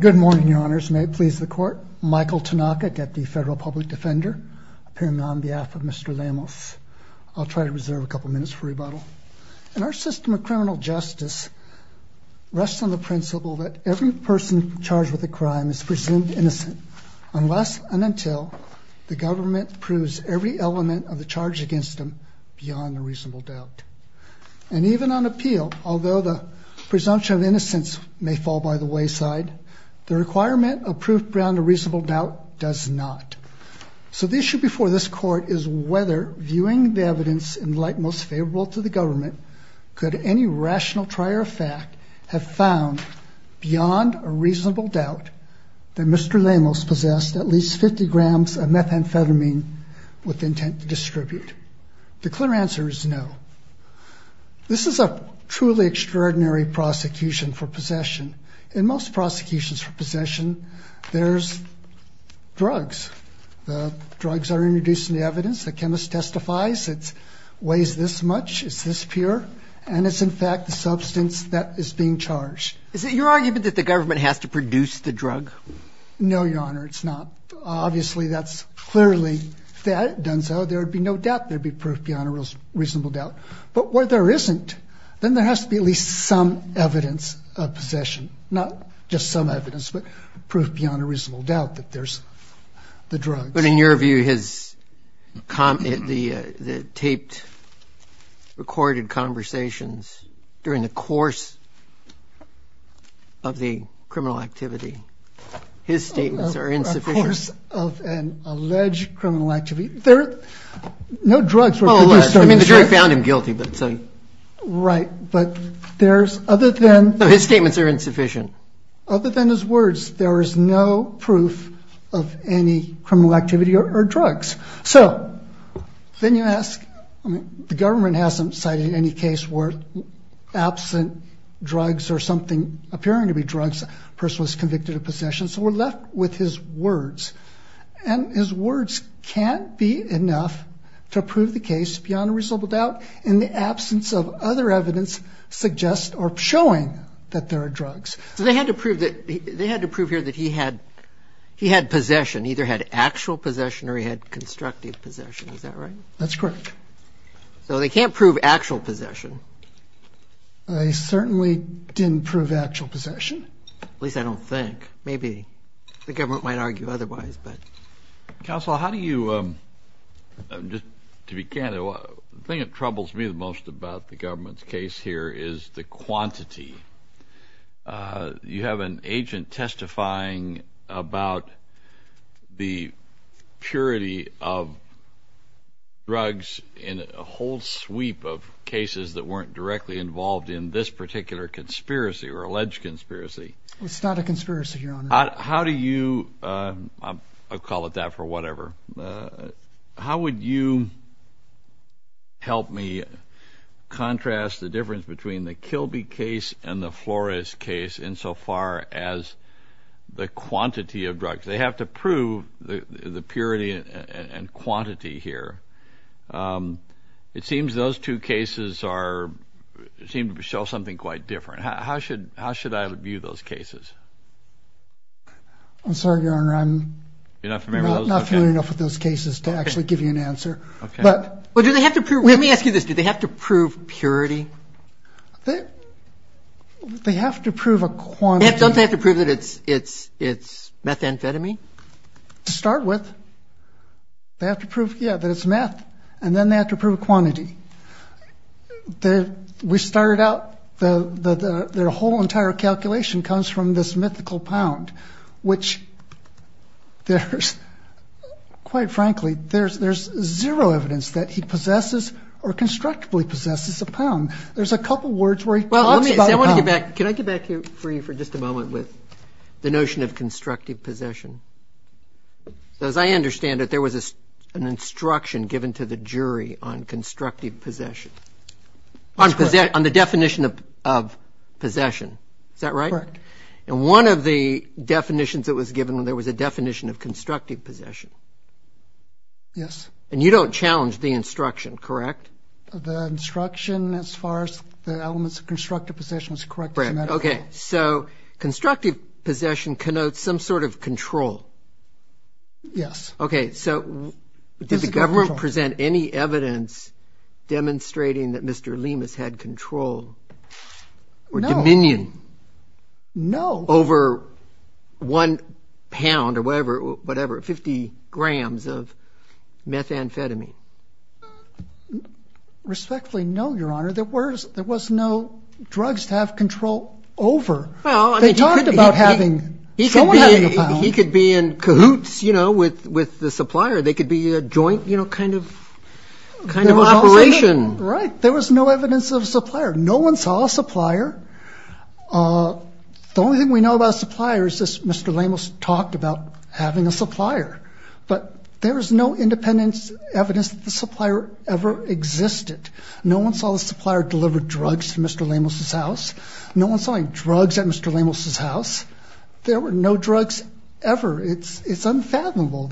Good morning, Your Honors. May it please the Court. Michael Tanaka, Deputy Federal Public Defender, appearing on behalf of Mr. Lemus. I'll try to reserve a couple minutes for rebuttal. Our system of criminal justice rests on the principle that every person charged with a crime is presumed innocent unless and until the government proves every element of the charge against them beyond a reasonable doubt. And even on appeal, although the presumption of innocence may fall by the wayside, the requirement of proof beyond a reasonable doubt does not. So the issue before this Court is whether, viewing the evidence in light most favorable to the government, could any rational trier of fact have found, beyond a reasonable doubt, that Mr. Lemus possessed at least 50 grams of methamphetamine with intent to distribute. The clear answer is no. This is a truly extraordinary prosecution for possession. In most prosecutions for possession, there's drugs. The drugs are introduced in the evidence. The chemist testifies it weighs this much, it's this pure, and it's in fact the substance that is being charged. Is it your argument that the government has to produce the drug? No, Your Honor, it's not. Obviously, that's clearly done so. There would be no doubt. There would be proof beyond a reasonable doubt. But where there isn't, then there has to be at least some evidence of possession, not just some evidence but proof beyond a reasonable doubt that there's the drugs. But in your view, the taped, recorded conversations during the course of the criminal activity, his statements are insufficient. Of course, of an alleged criminal activity. There are no drugs. I mean, the jury found him guilty. Right, but there's other than... His statements are insufficient. Other than his words, there is no proof of any criminal activity or drugs. So then you ask, the government hasn't cited any case where absent drugs or something appearing to be drugs, a person was convicted of possession. So we're left with his words. And his words can't be enough to prove the case beyond a reasonable doubt in the absence of other evidence suggest or showing that there are drugs. So they had to prove here that he had possession, either had actual possession or he had constructive possession. Is that right? That's correct. So they can't prove actual possession. I certainly didn't prove actual possession. At least I don't think. Maybe the government might argue otherwise. Counsel, how do you, just to be candid, the thing that troubles me the most about the government's case here is the quantity. You have an agent testifying about the purity of drugs in a whole sweep of cases that weren't directly involved in this particular conspiracy or alleged conspiracy. It's not a conspiracy, Your Honor. How do you, I'll call it that for whatever, how would you help me contrast the difference between the Kilby case and the Flores case insofar as the quantity of drugs? They have to prove the purity and quantity here. It seems those two cases are, seem to show something quite different. How should I view those cases? I'm sorry, Your Honor. I'm not familiar enough with those cases to actually give you an answer. Let me ask you this. Do they have to prove purity? They have to prove a quantity. Don't they have to prove that it's methamphetamine? To start with, they have to prove, yeah, that it's meth, and then they have to prove a quantity. We started out, their whole entire calculation comes from this mythical pound, which there's, quite frankly, there's zero evidence that he possesses or constructively possesses a pound. There's a couple words where he talks about pound. Can I get back to you for just a moment with the notion of constructive possession? As I understand it, there was an instruction given to the jury on constructive possession, on the definition of possession. Is that right? Correct. And one of the definitions that was given, there was a definition of constructive possession. Yes. And you don't challenge the instruction, correct? The instruction as far as the elements of constructive possession is correct. Okay. So constructive possession connotes some sort of control. Yes. Okay. So did the government present any evidence demonstrating that Mr. Lemus had control or dominion over one pound or whatever, whatever, 50 grams of methamphetamine? Respectfully, no, Your Honor. There was no drugs to have control over. They talked about having someone having a pound. He could be in cahoots, you know, with the supplier. They could be a joint, you know, kind of operation. Right. There was no evidence of a supplier. No one saw a supplier. But there is no independent evidence that the supplier ever existed. No one saw the supplier deliver drugs to Mr. Lemus's house. No one saw him drug Mr. Lemus's house. There were no drugs ever. It's unfathomable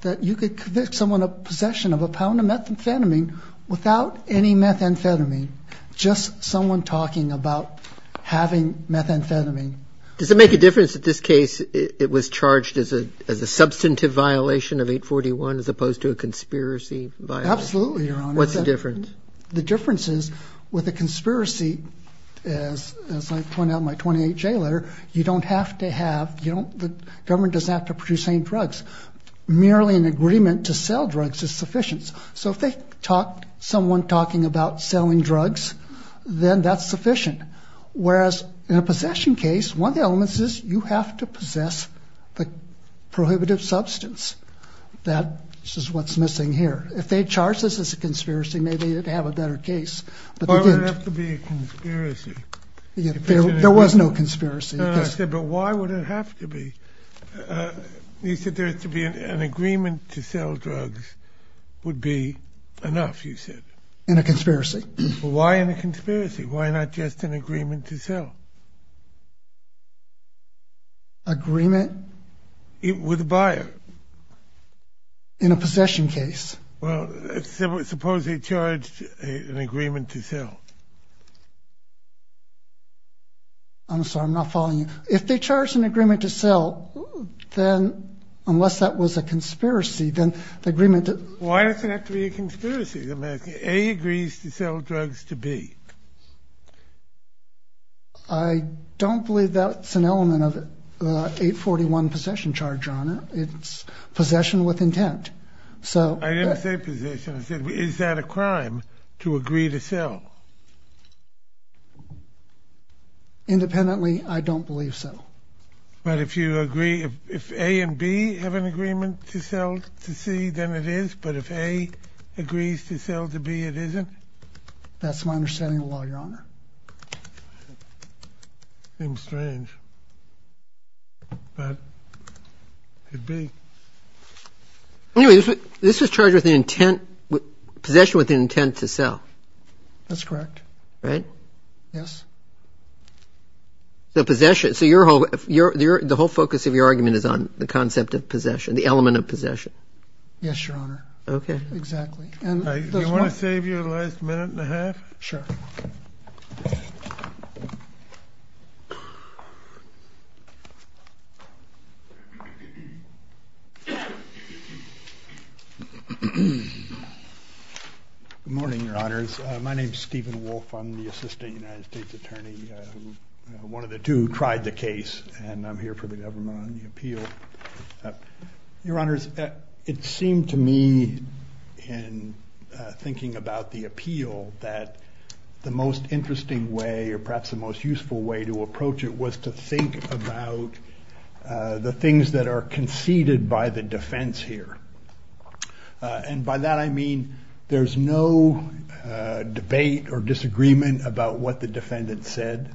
that you could convict someone of possession of a pound of methamphetamine without any methamphetamine, just someone talking about having methamphetamine. Does it make a difference that this case, it was charged as a substantive violation of 841 as opposed to a conspiracy violation? Absolutely, Your Honor. What's the difference? The difference is with a conspiracy, as I pointed out in my 28-J letter, you don't have to have, you don't, the government doesn't have to produce any drugs. Merely an agreement to sell drugs is sufficient. So if they talk, someone talking about selling drugs, then that's sufficient. Whereas in a possession case, one of the elements is you have to possess the prohibitive substance. That is what's missing here. If they charge this as a conspiracy, maybe they'd have a better case, but they didn't. Why would it have to be a conspiracy? There was no conspiracy. I said, but why would it have to be? You said there has to be an agreement to sell drugs would be enough, you said. In a conspiracy. Why in a conspiracy? Why not just an agreement to sell? Agreement? With a buyer. In a possession case. Well, suppose they charged an agreement to sell. I'm sorry, I'm not following you. If they charged an agreement to sell, then unless that was a conspiracy, then the agreement to sell. Why does it have to be a conspiracy? A agrees to sell drugs to B. I don't believe that's an element of the 841 possession charge, Your Honor. It's possession with intent. I didn't say possession. I said is that a crime to agree to sell? Independently, I don't believe so. But if you agree, if A and B have an agreement to sell to C, then it is, but if A agrees to sell to B, it isn't? That's my understanding of the law, Your Honor. Seems strange, but it'd be. Anyway, this was charged with the intent, possession with the intent to sell. That's correct. Right? Yes. So possession, so the whole focus of your argument is on the concept of possession, the element of possession? Yes, Your Honor. Okay. Exactly. Do you want to save your last minute and a half? Sure. Good morning, Your Honors. My name is Stephen Wolf. I'm the Assistant United States Attorney, one of the two who tried the case, and I'm here for the government on the appeal. Your Honors, it seemed to me in thinking about the appeal that the most interesting way or perhaps the most useful way to approach it was to think about the things that are conceded by the defense here. And by that I mean there's no debate or disagreement about what the defendant said.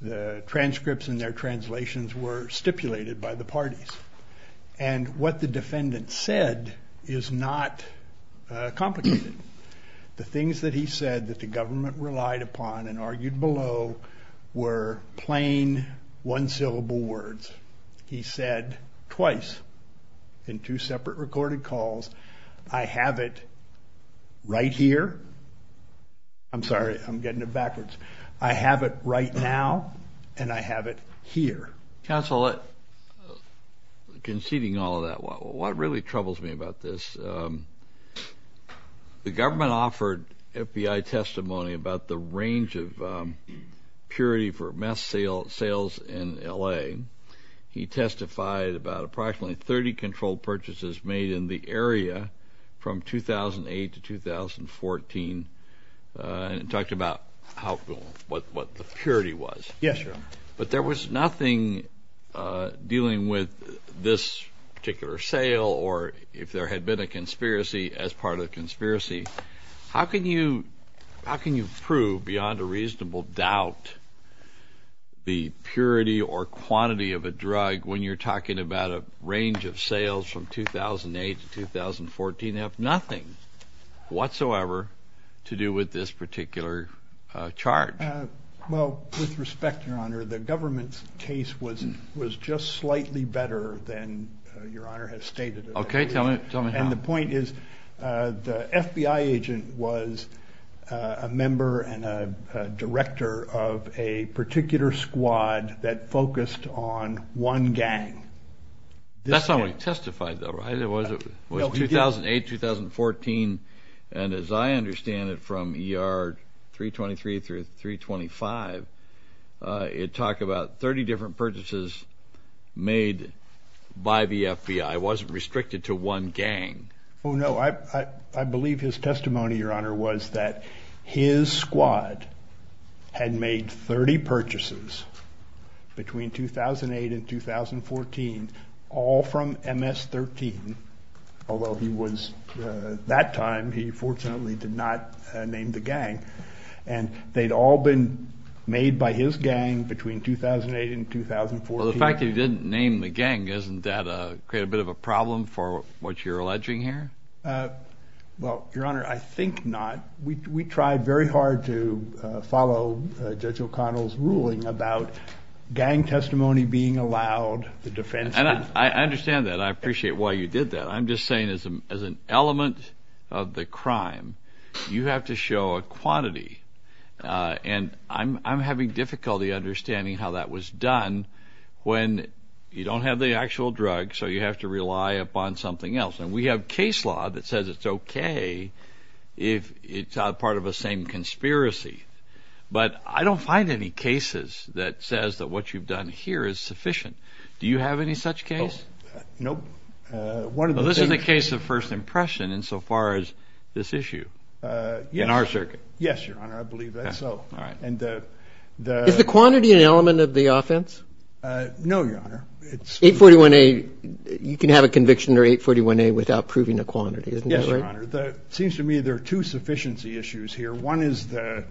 The transcripts and their translations were stipulated by the parties, and what the defendant said is not complicated. The things that he said that the government relied upon and argued below were plain one-syllable words. He said twice in two separate recorded calls, I have it right here. I'm sorry. I'm getting it backwards. I have it right now, and I have it here. Counsel, conceding all of that, what really troubles me about this, the government offered FBI testimony about the range of purity for meth sales in L.A. He testified about approximately 30 controlled purchases made in the area from 2008 to 2014 and talked about what the purity was. But there was nothing dealing with this particular sale or if there had been a conspiracy as part of the conspiracy. How can you prove beyond a reasonable doubt the purity or quantity of a drug when you're talking about a range of sales from 2008 to 2014 that have nothing whatsoever to do with this particular charge? Well, with respect, Your Honor, the government's case was just slightly better than Your Honor has stated. Okay. Tell me how. And the point is the FBI agent was a member and a director of a particular squad that focused on one gang. That's not what he testified, though, right? It was 2008, 2014, and as I understand it from ER 323 through 325, it talked about 30 different purchases made by the FBI. It wasn't restricted to one gang. Oh, no. I believe his testimony, Your Honor, was that his squad had made 30 purchases between 2008 and 2014, all from MS-13, although he was at that time, he fortunately did not name the gang. And they'd all been made by his gang between 2008 and 2014. Well, the fact that he didn't name the gang, doesn't that create a bit of a problem for what you're alleging here? Well, Your Honor, I think not. We tried very hard to follow Judge O'Connell's ruling about gang testimony being allowed. And I understand that. I appreciate why you did that. I'm just saying as an element of the crime, you have to show a quantity. And I'm having difficulty understanding how that was done when you don't have the actual drug, so you have to rely upon something else. And we have case law that says it's okay if it's part of the same conspiracy. But I don't find any cases that says that what you've done here is sufficient. Do you have any such case? Nope. Well, this is a case of first impression insofar as this issue in our circuit. Yes, Your Honor, I believe that's so. Is the quantity an element of the offense? No, Your Honor. 841A, you can have a conviction under 841A without proving a quantity, isn't that right? Yes, Your Honor. It seems to me there are two sufficiency issues here. One is the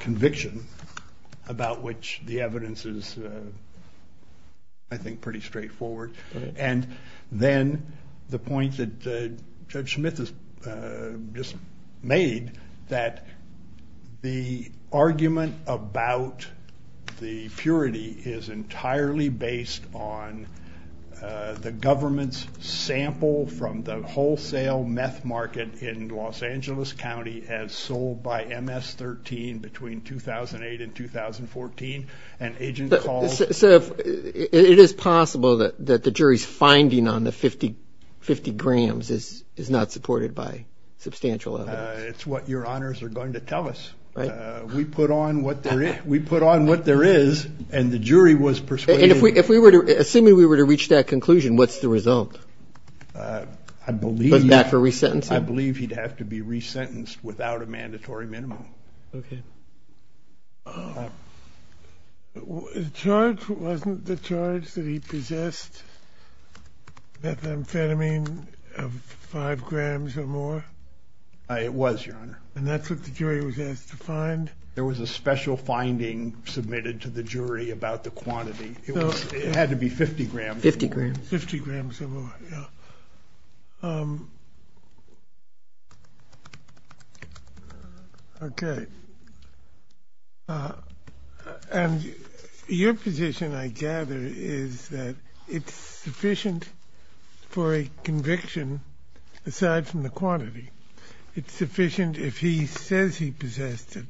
conviction about which the evidence is, I think, pretty straightforward. And then the point that Judge Smith has just made that the argument about the purity is entirely based on the government's sample from the wholesale meth market in Los Angeles County as sold by MS-13 between 2008 and 2014. So it is possible that the jury's finding on the 50 grams is not supported by substantial evidence? It's what Your Honors are going to tell us. We put on what there is and the jury was persuaded. Assuming we were to reach that conclusion, what's the result? I believe he'd have to be resentenced without a mandatory minimum. Okay. Wasn't the charge that he possessed methamphetamine of 5 grams or more? It was, Your Honor. And that's what the jury was asked to find? There was a special finding submitted to the jury about the quantity. It had to be 50 grams or more. 50 grams. 50 grams or more, yeah. Okay. And your position, I gather, is that it's sufficient for a conviction aside from the quantity. It's sufficient if he says he possessed it,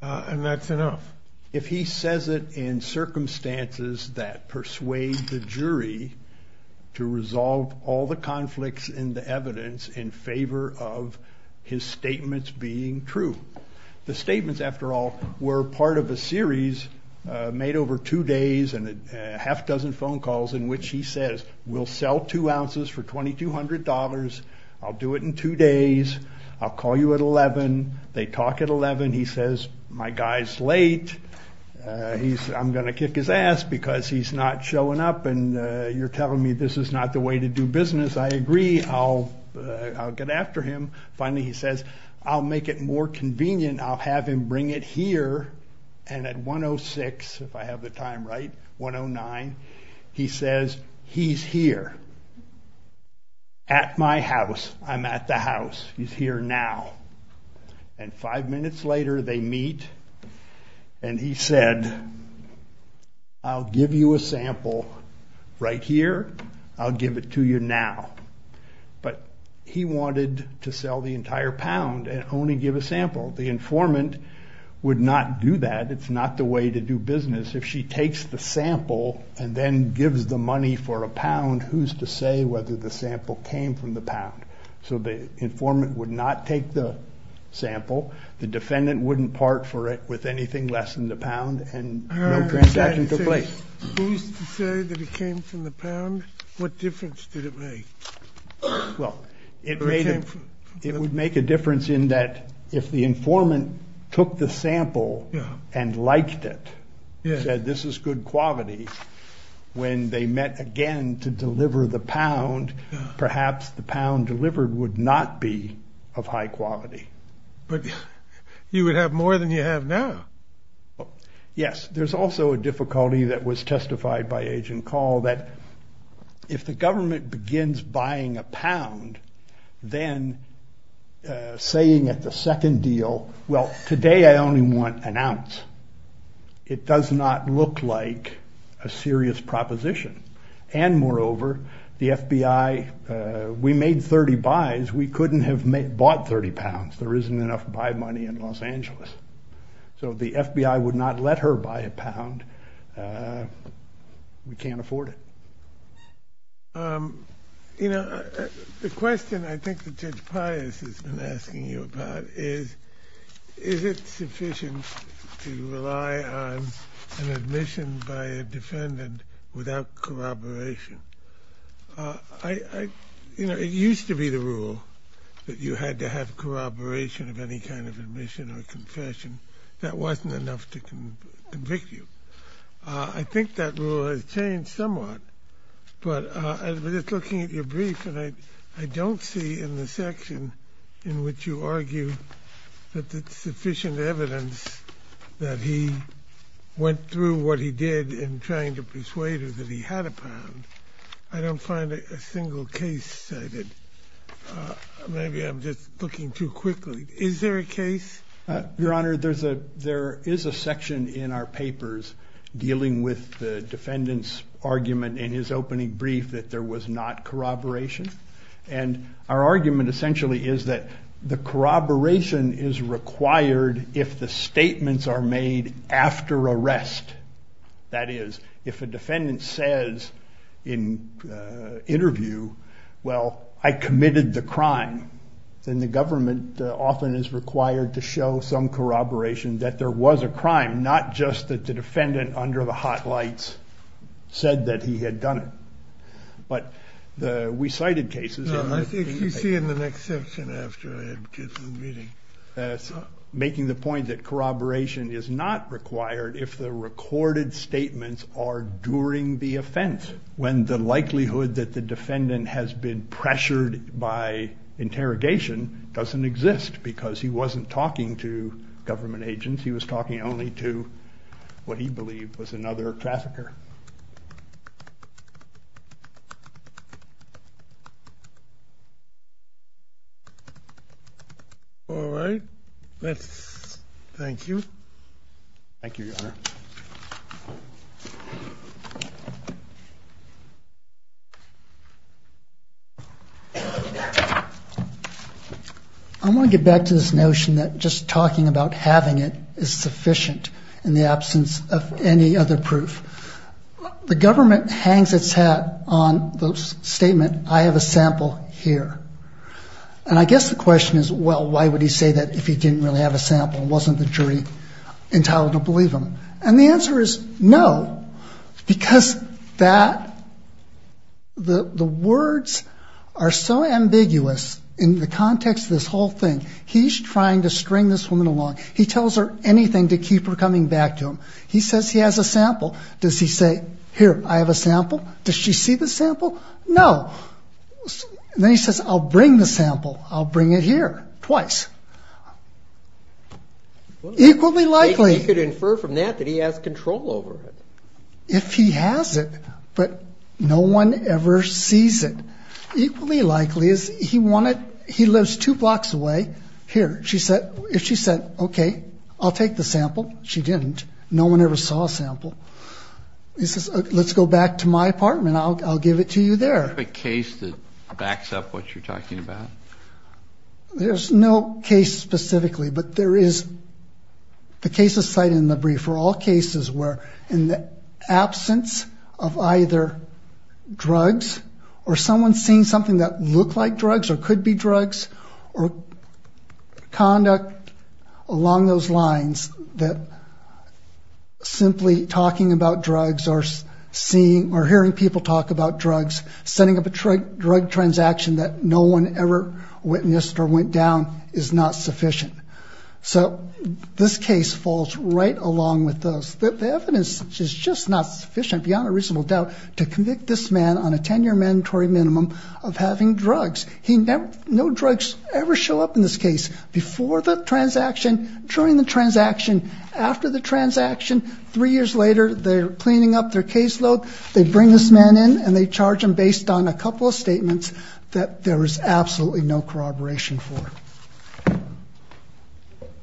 and that's enough. If he says it in circumstances that persuade the jury to resolve all the conflicts in the evidence in favor of his statements being true. The statements, after all, were part of a series made over two days and a half dozen phone calls in which he says, We'll sell two ounces for $2,200. I'll do it in two days. I'll call you at 11. They talk at 11. He says, My guy's late. I'm going to kick his ass because he's not showing up, and you're telling me this is not the way to do business. I agree. I'll get after him. Finally, he says, I'll make it more convenient. I'll have him bring it here. And at 106, if I have the time right, 109, he says, He's here at my house. I'm at the house. He's here now. And five minutes later, they meet, and he said, I'll give you a sample right here. I'll give it to you now. But he wanted to sell the entire pound and only give a sample. The informant would not do that. It's not the way to do business. If she takes the sample and then gives the money for a pound, who's to say whether the sample came from the pound? So the informant would not take the sample. The defendant wouldn't part for it with anything less than the pound, and no transaction took place. Who's to say that it came from the pound? What difference did it make? Well, it would make a difference in that if the informant took the sample and liked it, said this is good quality, when they met again to deliver the pound, perhaps the pound delivered would not be of high quality. But you would have more than you have now. Yes. There's also a difficulty that was testified by Agent Call that if the government begins buying a pound, then saying at the second deal, well, today I only want an ounce. It does not look like a serious proposition. And moreover, the FBI, we made 30 buys. We couldn't have bought 30 pounds. There isn't enough buy money in Los Angeles. So the FBI would not let her buy a pound. We can't afford it. You know, the question I think that Judge Pius has been asking you about is, is it sufficient to rely on an admission by a defendant without corroboration? You know, it used to be the rule that you had to have corroboration of any kind of admission or confession. That wasn't enough to convict you. I think that rule has changed somewhat. But just looking at your brief, I don't see in the section in which you argue that there's sufficient evidence that he went through what he did in trying to persuade her that he had a pound. I don't find a single case cited. Maybe I'm just looking too quickly. Is there a case? Your Honor, there is a section in our papers dealing with the defendant's argument in his opening brief that there was not corroboration. And our argument essentially is that the corroboration is required if the statements are made after arrest. That is, if a defendant says in interview, well, I committed the crime, then the government often is required to show some corroboration that there was a crime, not just that the defendant under the hot lights said that he had done it. But we cited cases. No, I think you see in the next section after I had kids in the meeting. Making the point that corroboration is not required if the recorded statements are during the offense. When the likelihood that the defendant has been pressured by interrogation doesn't exist because he wasn't talking to government agents. He was talking only to what he believed was another trafficker. All right. Thank you. Thank you, Your Honor. I want to get back to this notion that just talking about having it is sufficient in the absence of any other proof. The government hangs its hat on the statement, I have a sample here. And I guess the question is, well, why would he say that if he didn't really have a sample and wasn't the jury entitled to believe him? And the answer is no, because the words are so ambiguous in the context of this whole thing. He's trying to string this woman along. He tells her anything to keep her coming back to him. He says he has a sample. Does he say, here, I have a sample? Does she see the sample? No. Then he says, I'll bring the sample. I'll bring it here twice. Equally likely. He could infer from that that he has control over it. If he has it, but no one ever sees it. Equally likely is he lives two blocks away. Here, if she said, okay, I'll take the sample, she didn't. No one ever saw a sample. He says, let's go back to my apartment. I'll give it to you there. Is there a case that backs up what you're talking about? There's no case specifically, but there is the case cited in the brief for all cases where in the absence of either drugs or someone seeing something that looked like drugs or could be drugs or conduct along those lines that simply talking about drugs or hearing people talk about drugs, setting up a drug transaction that no one ever witnessed or went down is not sufficient. So this case falls right along with those. The evidence is just not sufficient beyond a reasonable doubt to convict this man on a 10-year mandatory minimum of having drugs. No drugs ever show up in this case. Before the transaction, during the transaction, after the transaction, three years later, they're cleaning up their caseload. They bring this man in, and they charge him based on a couple of statements that there is absolutely no corroboration for.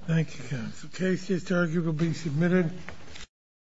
Thank you, counsel. Case is adjourned. You will be submitted.